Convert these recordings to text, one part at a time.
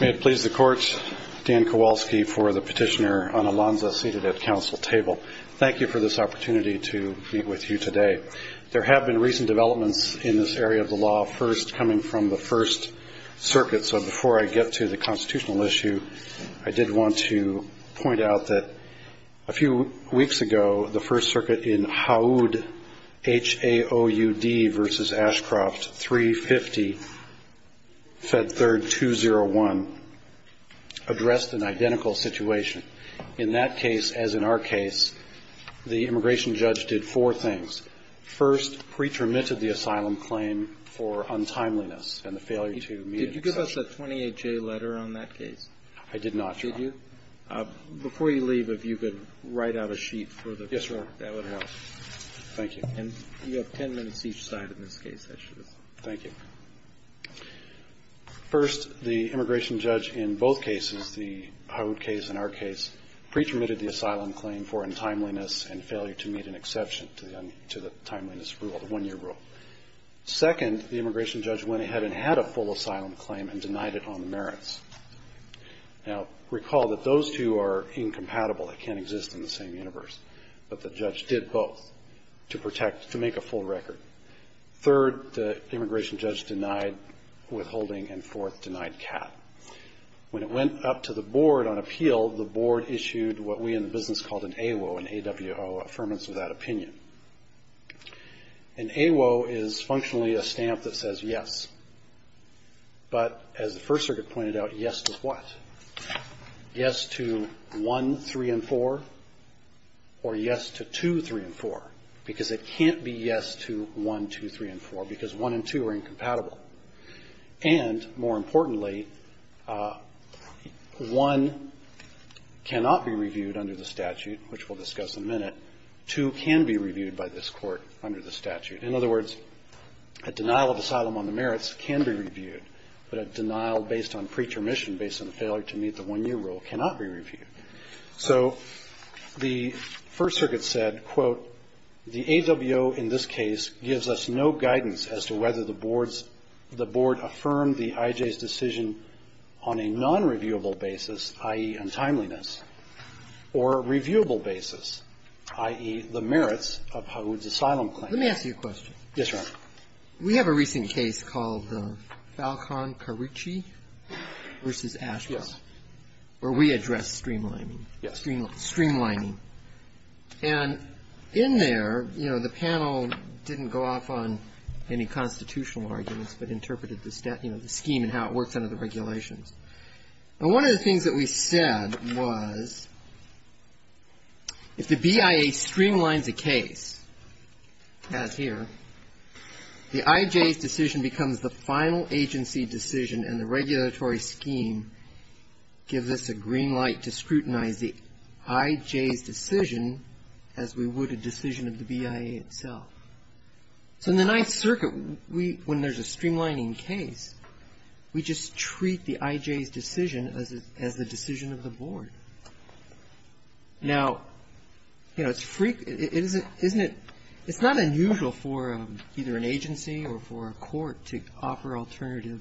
May it please the Court, Dan Kowalski for the Petitioner on ALANZA, seated at Council Table. Thank you for this opportunity to meet with you today. There have been recent developments in this area of the law, first coming from the First Circuit. So before I get to the constitutional issue, I did want to point out that a few weeks ago, the First Circuit in HAUD, H-A-O-U-D v. Ashcroft, 350, Fed Third 201, addressed an identical situation. In that case, as in our case, the immigration judge did four things. First, pre-termitted the asylum claim for untimeliness and the failure to meet an extension. Did you give us a 28-J letter on that case? I did not, Your Honor. Did you? Before you leave, if you could write out a sheet for the First Circuit, that would be very helpful. Thank you. And you have ten minutes each side in this case, I should assume. Thank you. First, the immigration judge in both cases, the HAUD case and our case, pre-termitted the asylum claim for untimeliness and failure to meet an exception to the untimeliness rule, the one-year rule. Second, the immigration judge went ahead and had a full asylum claim and denied it on the merits. Now, recall that those two are incompatible. They can't exist in the same universe. But the judge did both to protect, to make a full record. Third, the immigration judge denied withholding, and fourth, denied CAAT. When it went up to the board on appeal, the board issued what we in the business called an AWO, an A-W-O, Affirmative Without Opinion. An AWO is functionally a stamp that says yes. But as the First Circuit pointed out, yes to what? Yes to 1, 3, and 4? Or yes to 2, 3, and 4? Because it can't be yes to 1, 2, 3, and 4, because 1 and 2 are incompatible. And, more importantly, 1 cannot be reviewed under the statute, which we'll discuss in a minute. 2 can be reviewed by this Court under the statute. In other words, a denial of asylum on the merits can be reviewed, but a denial based on pretermission, based on a failure to meet the 1-year rule, cannot be reviewed. So the First Circuit said, quote, the AWO in this case gives us no guidance as to whether the board's the board affirmed the IJ's decision on a nonreviewable basis, i.e., untimeliness, or reviewable basis, i.e., the merits of Hawood's asylum claim. Yes, Your Honor. We have a recent case called the Falcon-Carucci v. Ashes, where we addressed streamlining. Streamlining. And in there, you know, the panel didn't go off on any constitutional arguments, but interpreted the, you know, the scheme and how it works under the regulations. And one of the things that we said was, if the BIA streamlines a case, as here, the IJ's decision becomes the final agency decision, and the regulatory scheme gives us a green light to scrutinize the IJ's decision as we would a decision of the BIA itself. So in the Ninth Circuit, when there's a streamlining case, we just treat the IJ's decision as the decision of the board. Now, you know, it's frequent. Isn't it? It's not unusual for either an agency or for a court to offer alternative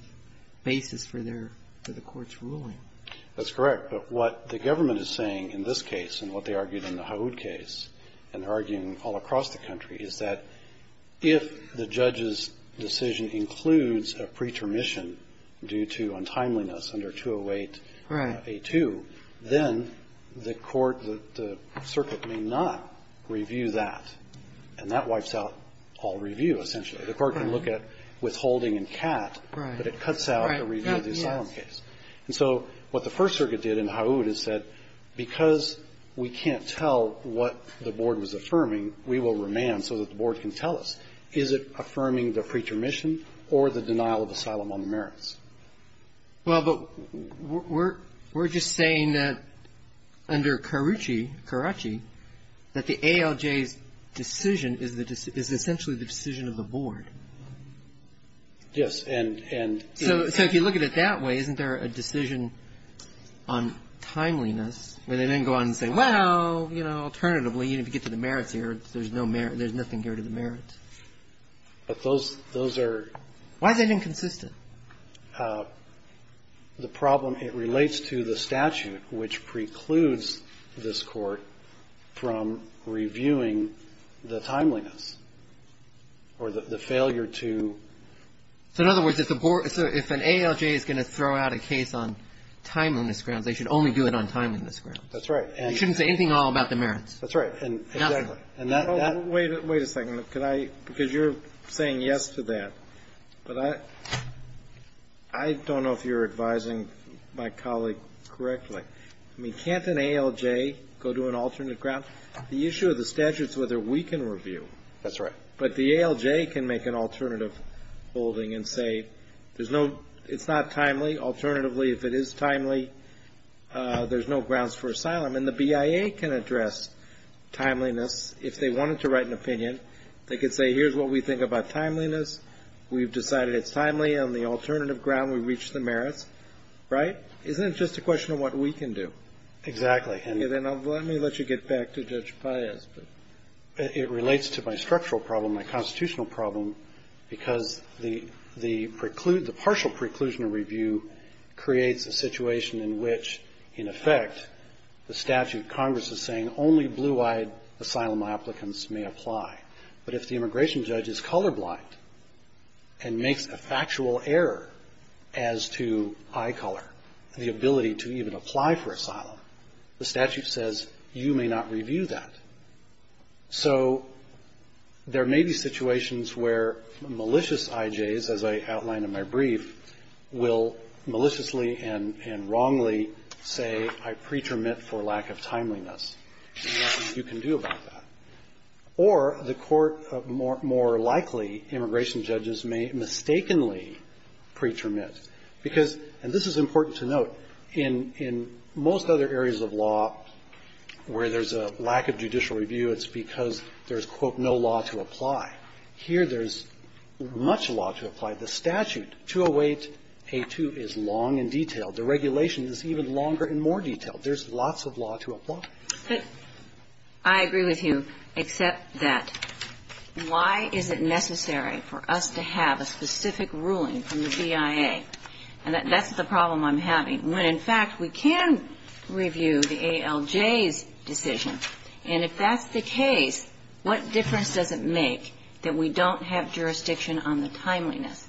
basis for their, for the court's ruling. That's correct. But what the government is saying in this case and what they argued in the Hawood case, and they're arguing all across the country, is that if the judge's decision is not reviewed, then the court, the circuit may not review that, and that wipes out all review, essentially. The court can look at withholding and cat, but it cuts out a review of the asylum case. And so what the First Circuit did in Hawood is said, because we can't tell what the board was affirming, we will remand so that the board can tell us, is it affirming the preacher mission or the denial of asylum on the merits? Well, but we're just saying that under Carucci, Caracci, that the ALJ's decision is essentially the decision of the board. Yes, and... So if you look at it that way, isn't there a decision on timeliness, where they didn't go on and say, well, you know, alternatively, even if you get to the merits here, there's no merits, there's nothing here to the merits. But those, those are... Why is that inconsistent? The problem, it relates to the statute, which precludes this Court from reviewing the timeliness or the failure to... So in other words, if the board, so if an ALJ is going to throw out a case on timeliness grounds, they should only do it on timeliness grounds. That's right. They shouldn't say anything at all about the merits. That's right. And that... Wait a second. Could I, because you're saying yes to that, but I, I don't know if you're advising my colleague correctly. I mean, can't an ALJ go to an alternate ground? The issue of the statute is whether we can review. That's right. But the ALJ can make an alternative holding and say, there's no, it's not timely. Alternatively, if it is timely, there's no grounds for asylum. And the BIA can address timeliness. If they wanted to write an opinion, they could say, here's what we think about timeliness. We've decided it's timely on the alternative ground. We've reached the merits. Right? Isn't it just a question of what we can do? Exactly. Let me let you get back to Judge Paez. It relates to my structural problem, my constitutional problem, because the, the preclude the partial preclusion review creates a situation in which, in effect, the statute Congress is saying only blue-eyed asylum applicants may apply. But if the immigration judge is colorblind and makes a factual error as to eye color and the ability to even apply for asylum, the statute says, you may not review that. So there may be situations where malicious IJs, as I outlined in my brief, will maliciously and, and wrongly say, I pretermit for lack of timeliness. There's nothing you can do about that. Or the court more, more likely immigration judges may mistakenly pretermit. Because, and this is important to note, in, in most other areas of law where there's a lack of judicial review, it's because there's, quote, no law to apply. Here there's much law to apply. The statute, 208a2, is long and detailed. The regulation is even longer and more detailed. There's lots of law to apply. But I agree with you, except that why is it necessary for us to have a specific ruling from the BIA? And that, that's the problem I'm having, when, in fact, we can review the ALJ's decision. And if that's the case, what difference does it make that we don't have jurisdiction on the timeliness?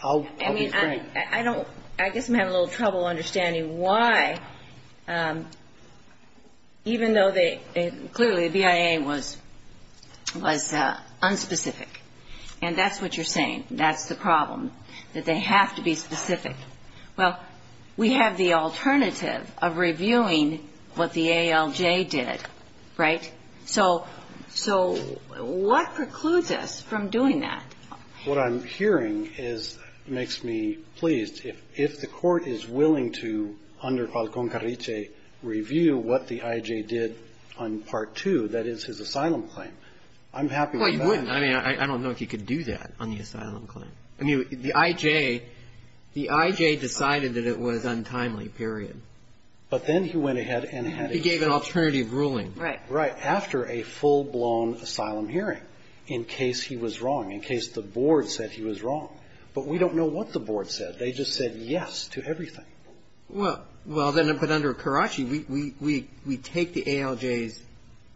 I'll, I'll be frank. I mean, I, I don't, I guess I'm having a little trouble understanding why, even though they, clearly the BIA was, was unspecific. And that's what you're saying. That's the problem, that they have to be specific. Well, we have the alternative of reviewing what the ALJ did, right? So, so what precludes us from doing that? What I'm hearing is, makes me pleased. If, if the court is willing to, under what the IJ did on Part 2, that is, his asylum claim, I'm happy with that. Well, you wouldn't. I mean, I, I don't know if you could do that on the asylum claim. I mean, the IJ, the IJ decided that it was untimely, period. But then he went ahead and had it. He gave an alternative ruling. Right. Right. After a full-blown asylum hearing, in case he was wrong, in case the board said he was wrong. But we don't know what the board said. They just said yes to everything. Well, well, then, but under Karachi, we, we, we, we take the ALJ's,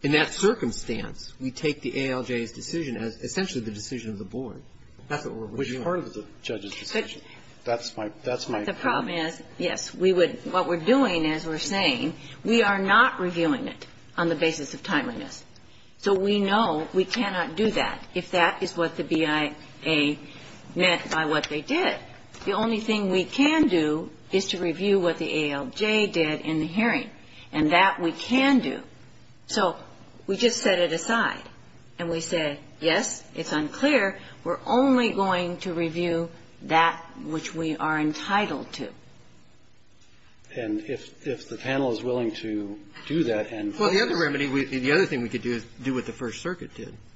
in that circumstance, we take the ALJ's decision as essentially the decision of the board. That's what we're reviewing. Which is part of the judge's decision. That's my, that's my. The problem is, yes, we would, what we're doing, as we're saying, we are not reviewing it on the basis of timeliness. So we know we cannot do that if that is what the BIA remedy meant by what they did. The only thing we can do is to review what the ALJ did in the hearing. And that we can do. So we just set it aside. And we said, yes, it's unclear. We're only going to review that which we are entitled to. And if, if the panel is willing to do that and... Well, the other remedy, the other thing we could do is do what the First Circuit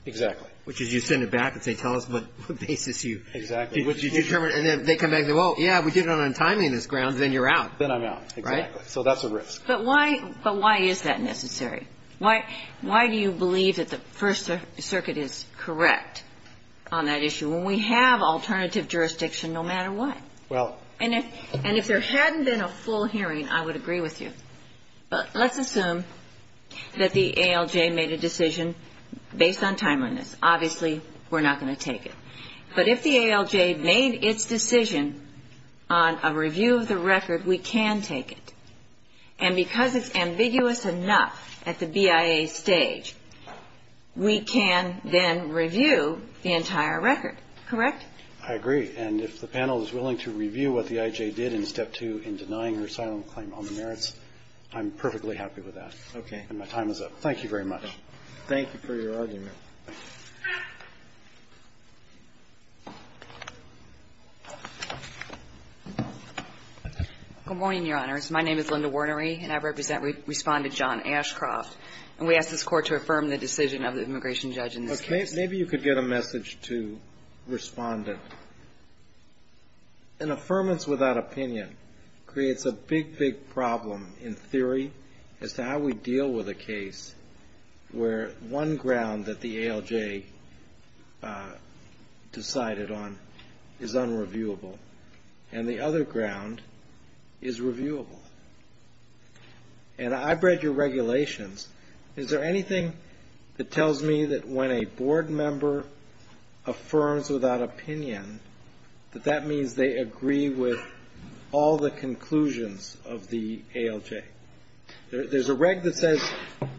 Exactly. Which is you send it back and say, tell us what basis you... Exactly. Which you determine, and then they come back and say, well, yeah, we did it on timeliness grounds, then you're out. Then I'm out. Right? Exactly. So that's a risk. But why, but why is that necessary? Why, why do you believe that the First Circuit is correct on that issue when we have alternative jurisdiction no matter what? Well. And if, and if there hadn't been a full hearing, I would agree with you. But let's assume that the ALJ made a decision based on timeliness. Obviously, we're not going to take it. But if the ALJ made its decision on a review of the record, we can take it. And because it's ambiguous enough at the BIA stage, we can then review the entire record. Correct? I agree. And if the panel is willing to review what the IJ did in Step 2 in denying her asylum claim on the merits, I'm perfectly happy with that. Okay. And my time is up. Thank you very much. Thank you for your argument. Good morning, Your Honors. My name is Linda Wernery, and I represent, respond to John Ashcroft. And we ask this Court to affirm the decision of the immigration judge in this case. Maybe you could get a message to respondent. An affirmance without opinion creates a big, big problem in theory as to how we deal with a case where one ground that the ALJ decided on is unreviewable, and the other ground is reviewable. And I've read your regulations. Is there anything that tells me that when a board member affirms without opinion that that means they agree with all the conclusions of the ALJ? There's a reg that says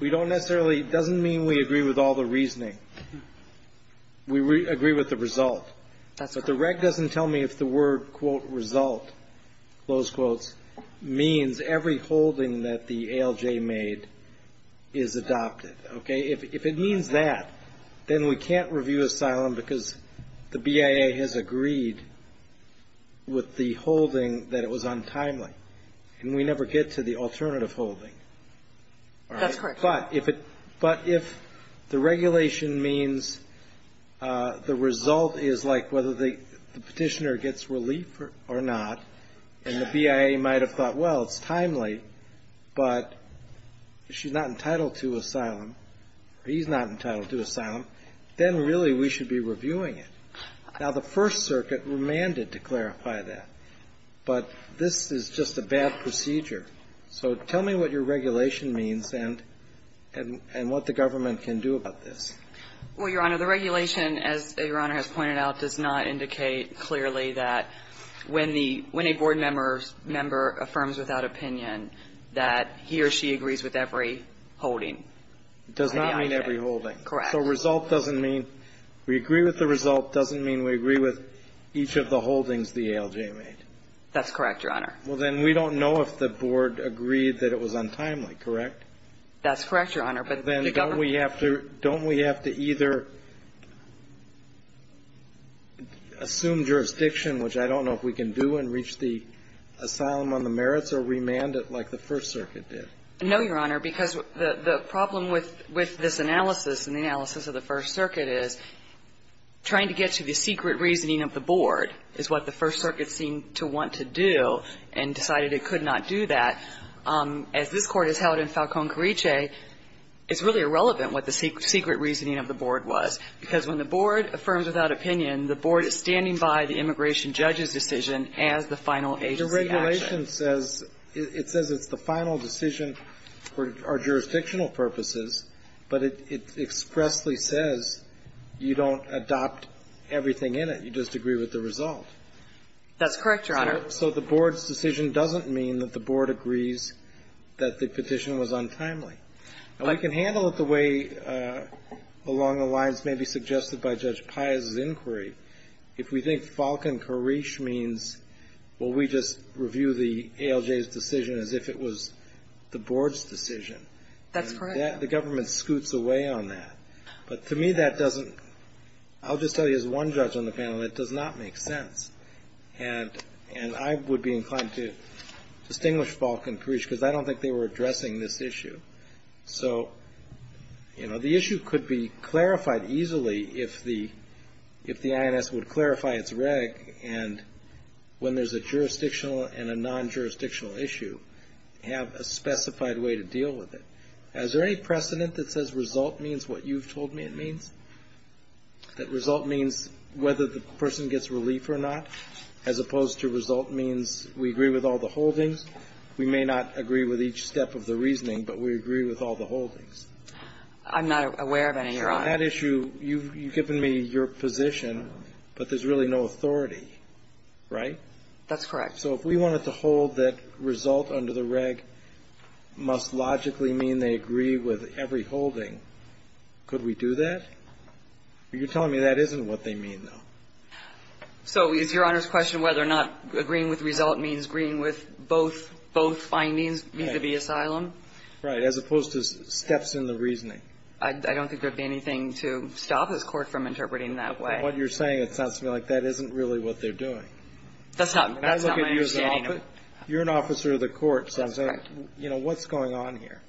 we don't necessarily, doesn't mean we agree with all the reasoning. We agree with the result. But the reg doesn't tell me if the word, quote, result, close quotes, means every holding that the ALJ made is adopted. Okay? If it means that, then we can't review asylum because the BIA has agreed with the holding that it was untimely. And we never get to the alternative holding. That's correct. But if the regulation means the result is like whether the petitioner gets relief or not, and the BIA might have thought, well, it's timely, but she's not entitled to asylum, or he's not entitled to asylum, then really we should be reviewing it. Now, the First Circuit remanded to clarify that. But this is just a bad procedure. So tell me what your regulation means and what the government can do about this. Well, Your Honor, the regulation, as Your Honor has pointed out, does not indicate clearly that when the – when a board member affirms without opinion that he or she agrees with every holding that the ALJ made. It does not mean every holding. Correct. So result doesn't mean – we agree with the result doesn't mean we agree with each of the holdings the ALJ made. That's correct, Your Honor. Well, then we don't know if the board agreed that it was untimely, correct? That's correct, Your Honor. Well, then don't we have to – don't we have to either assume jurisdiction, which I don't know if we can do, and reach the asylum on the merits, or remand it like the First Circuit did? No, Your Honor, because the problem with this analysis and the analysis of the First Circuit is trying to get to the secret reasoning of the board is what the First Circuit seemed to want to do and decided it could not do that. As this Court has held in Falcone-Carriche, it's really irrelevant what the secret reasoning of the board was, because when the board affirms without opinion, the board is standing by the immigration judge's decision as the final agency action. The regulation says – it says it's the final decision for our jurisdictional purposes, but it expressly says you don't adopt everything in it. That's correct, Your Honor. So the board's decision doesn't mean that the board agrees that the petition was untimely. Now, we can handle it the way along the lines maybe suggested by Judge Pius's inquiry. If we think Falcone-Carriche means, well, we just review the ALJ's decision as if it was the board's decision. That's correct. The government scoots away on that. But to me, that doesn't – I'll just tell you as one judge on the panel, it does not make sense. And I would be inclined to distinguish Falcone-Carriche, because I don't think they were addressing this issue. So, you know, the issue could be clarified easily if the – if the INS would clarify its reg, and when there's a jurisdictional and a non-jurisdictional issue, have a specified way to deal with it. Is there any precedent that says result means what you've told me it means? That result means whether the person gets relief or not, as opposed to result means we agree with all the holdings? We may not agree with each step of the reasoning, but we agree with all the holdings. I'm not aware of any, Your Honor. Sure. On that issue, you've given me your position, but there's really no authority. Right? That's correct. So if we wanted to hold that result under the reg must logically mean they agree with every holding, could we do that? You're telling me that isn't what they mean, though. So is Your Honor's question whether or not agreeing with result means agreeing with both findings vis-a-vis asylum? Right. As opposed to steps in the reasoning. I don't think there would be anything to stop this Court from interpreting that way. From what you're saying, it sounds to me like that isn't really what they're doing. That's not my understanding. You're an officer of the court. That's correct. So, you know, what's going on here?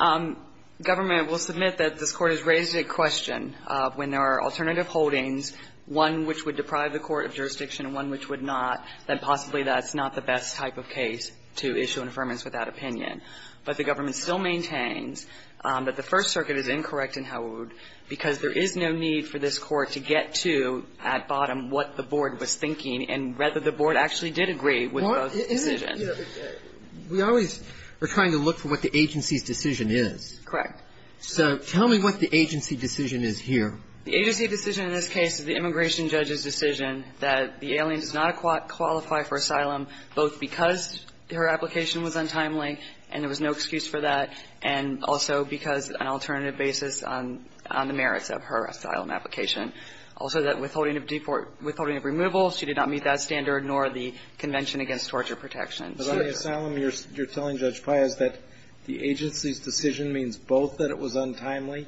Government will submit that this Court has raised a question of, when there are alternative holdings, one which would deprive the court of jurisdiction and one which would not, that possibly that's not the best type of case to issue an affirmance without opinion. But the government still maintains that the First Circuit is incorrect in Howard because there is no need for this Court to get to, at bottom, what the board was thinking and whether the board actually did agree with both decisions. We always are trying to look for what the agency's decision is. Correct. So tell me what the agency decision is here. The agency decision in this case is the immigration judge's decision that the alien does not qualify for asylum, both because her application was untimely and there was no excuse for that, and also because an alternative basis on the merits of her asylum application, also that withholding of removal, she did not meet that standard nor the Convention Against Torture Protection. But on the asylum, you're telling Judge Payaz that the agency's decision means both that it was untimely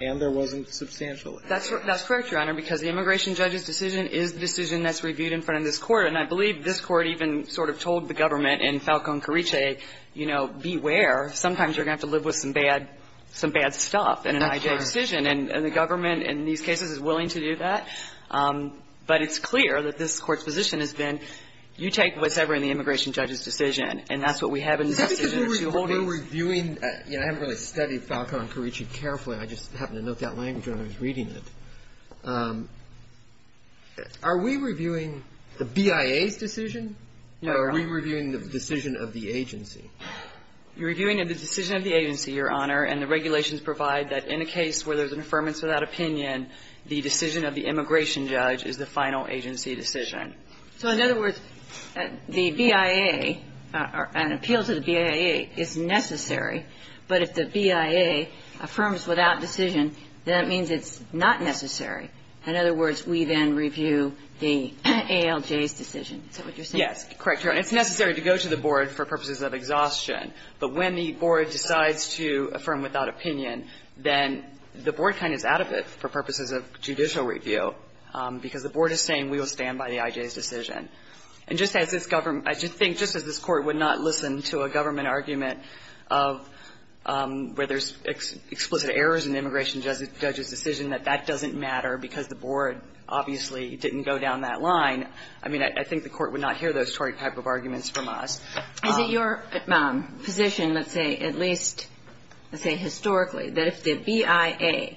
and there wasn't substantial excuse. That's correct, Your Honor, because the immigration judge's decision is the decision that's reviewed in front of this Court, and I believe this Court even sort of told the government in Falcón-Carriche, you know, beware, sometimes you're going to have to live with some bad stuff in an I.J. decision, and the government in these cases is willing to do that. But it's clear that this Court's position has been, you take what's ever in the immigration judge's decision, and that's what we have in the decision. We're reviewing, you know, I haven't really studied Falcón-Carriche carefully. I just happened to note that language when I was reading it. Are we reviewing the BIA's decision? No, Your Honor. Are we reviewing the decision of the agency? You're reviewing the decision of the agency, Your Honor, and the regulations provide that in a case where there's an affirmance without opinion, the decision of the immigration judge is the final agency decision. So in other words, the BIA, an appeal to the BIA is necessary, but if the BIA affirms without decision, then that means it's not necessary. In other words, we then review the ALJ's decision. Is that what you're saying? Yes. Correct, Your Honor. It's necessary to go to the board for purposes of exhaustion. But when the board decides to affirm without opinion, then the board kind of is out of it for purposes of judicial review, because the board is saying we will stand by the IJ's decision. And just as this government – I think just as this Court would not listen to a government argument of where there's explicit errors in the immigration judge's decision that that doesn't matter because the board obviously didn't go down that line, I mean, I think the Court would not hear those type of arguments from us. Is it your position, let's say, at least, let's say historically, that if the BIA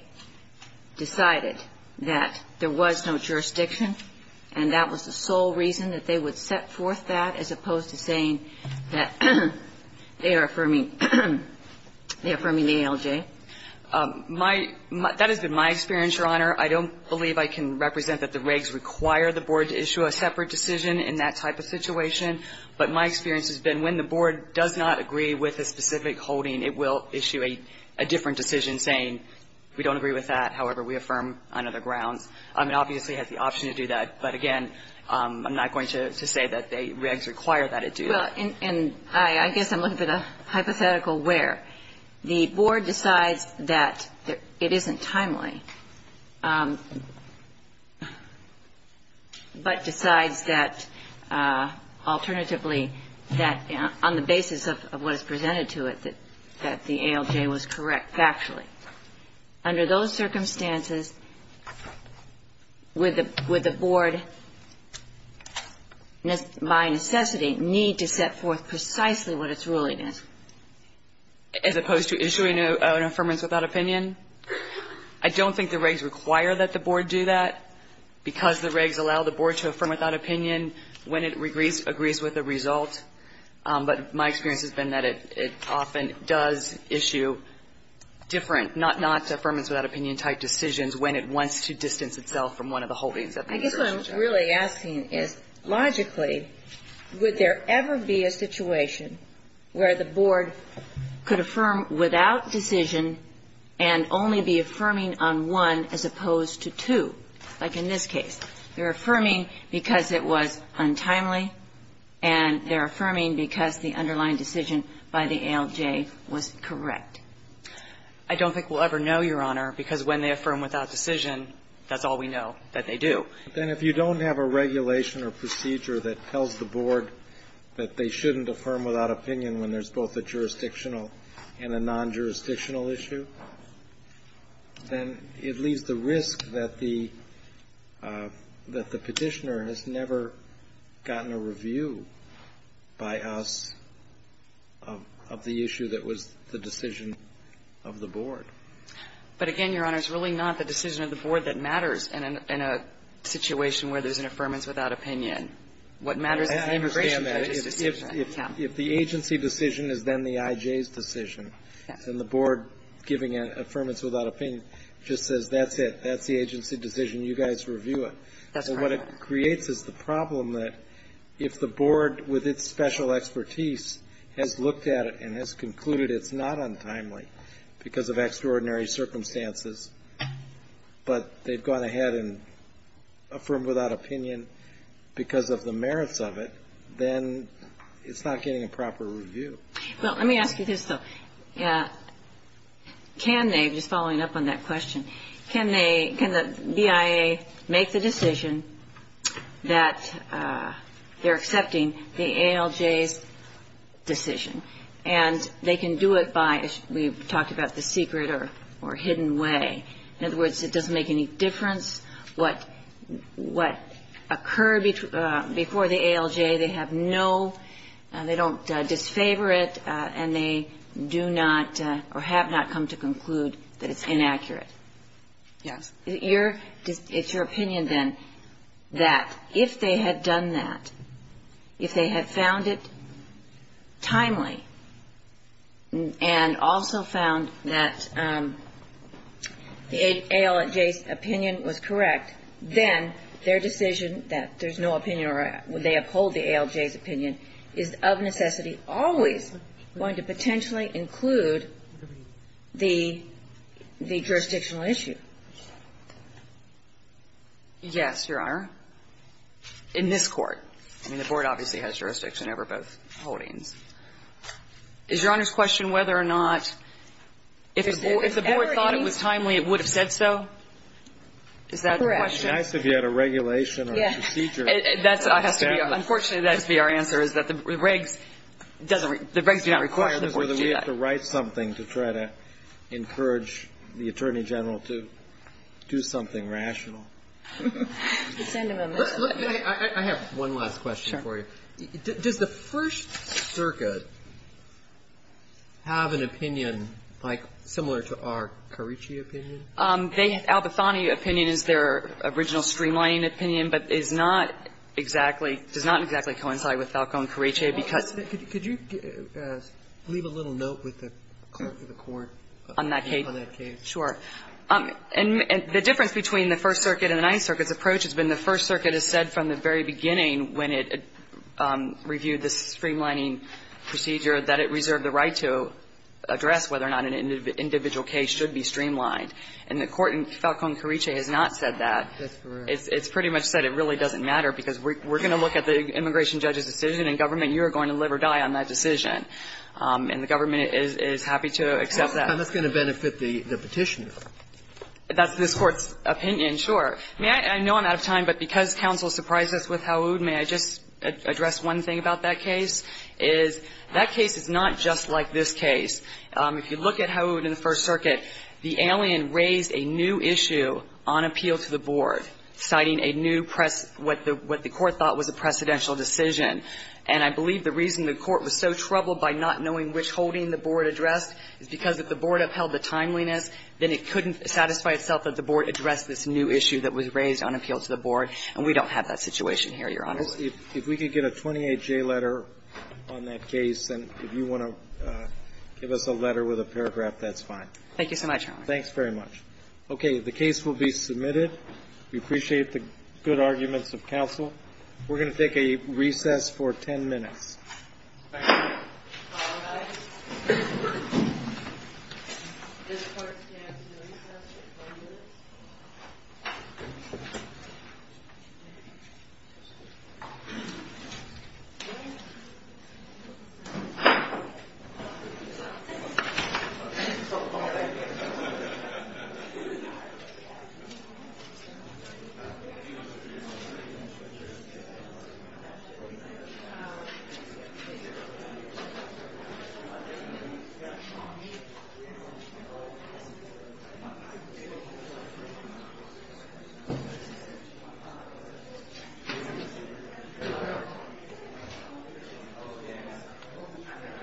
decided that there was no jurisdiction and that was the sole reason that they would set forth that as opposed to saying that they are affirming the ALJ? That has been my experience, Your Honor. I don't believe I can represent that the regs require the board to issue a separate decision in that type of situation. But my experience has been when the board does not agree with a specific holding, it will issue a different decision saying we don't agree with that. However, we affirm on other grounds. It obviously has the option to do that. But again, I'm not going to say that the regs require that it do that. Well, and I guess I'm looking for the hypothetical where the board decides that it isn't timely, but decides that alternatively that on the basis of what is presented to it, that the ALJ was correct factually. Under those circumstances, would the board by necessity need to set forth precisely what its ruling is? As opposed to issuing an affirmance without opinion? I don't think the regs require that the board do that, because the regs allow the board to affirm without opinion when it agrees with the result. But my experience has been that it often does issue different not-affirmance-without-opinion type decisions when it wants to distance itself from one of the holdings of the ALJ. I guess what I'm really asking is logically, would there ever be a situation where the board could affirm without decision and only be affirming on one as opposed to two, like in this case? They're affirming because it was untimely, and they're affirming because the underlying decision by the ALJ was correct. I don't think we'll ever know, Your Honor, because when they affirm without decision, that's all we know that they do. Then if you don't have a regulation or procedure that tells the board that they shouldn't affirm without opinion when there's both a jurisdictional and a non-jurisdictional issue, then it leaves the risk that the Petitioner has never gotten a review by us of the issue that was the decision of the board. But again, Your Honor, it's really not the decision of the board that matters in a situation where there's an affirmance without opinion. What matters is the immigration judge's decision. If the agency decision is then the IJ's decision, then the board giving an affirmance without opinion just says, that's it, that's the agency decision, you guys review That's part of it. What it creates is the problem that if the board, with its special expertise, has looked at it and has concluded it's not untimely because of extraordinary circumstances, but they've gone ahead and affirmed without opinion because of the It's not getting a proper review. Well, let me ask you this, though. Can they, just following up on that question, can they, can the BIA make the decision that they're accepting the ALJ's decision? And they can do it by, as we've talked about, the secret or hidden way. In other words, it doesn't make any difference what occurred before the ALJ. They have no, they don't disfavor it and they do not, or have not come to conclude that it's inaccurate. Yes. It's your opinion, then, that if they had done that, if they had found it timely and also found that the ALJ's opinion was correct, then their decision that there's no opinion or they uphold the ALJ's opinion is of necessity always going to potentially include the jurisdictional issue. Yes, Your Honor. In this Court. I mean, the board obviously has jurisdiction over both holdings. Is Your Honor's question whether or not, if the board thought it was timely, it would have said so? Is that the question? It would have been nice if you had a regulation or a procedure. Unfortunately, that has to be our answer, is that the regs do not require the board to do that. The question is whether we have to write something to try to encourage the Attorney General to do something rational. I have one last question for you. Sure. Does the First Circuit have an opinion, like, similar to our Carici opinion? The Albathony opinion is their original streamlining opinion, but is not exactly does not exactly coincide with Falco and Carici, because Could you leave a little note with the Court on that case? Sure. And the difference between the First Circuit and the Ninth Circuit's approach has been the First Circuit has said from the very beginning when it reviewed the streamlining procedure that it reserved the right to address whether or not an individual case should be streamlined. And the Court in Falco and Carici has not said that. That's correct. It's pretty much said it really doesn't matter, because we're going to look at the immigration judge's decision and, Government, you are going to live or die on that decision. And the Government is happy to accept that. And that's going to benefit the Petitioner. That's this Court's opinion, sure. I know I'm out of time, but because counsel surprised us with Howood, may I just address one thing about that case, is that case is not just like this case. If you look at Howood in the First Circuit, the alien raised a new issue on appeal to the Board, citing a new, what the Court thought was a precedential decision. And I believe the reason the Court was so troubled by not knowing which holding the Board addressed is because if the Board upheld the timeliness, then it couldn't satisfy itself that the Board addressed this new issue that was raised on appeal to the Board. And we don't have that situation here, Your Honor. If we could get a 28-J letter on that case, and if you want to give us a letter with a paragraph, that's fine. Thank you so much, Your Honor. Thanks very much. Okay. The case will be submitted. We appreciate the good arguments of counsel. We're going to take a recess for 10 minutes. All rise. This court stands to recess for 10 minutes. The case is submitted.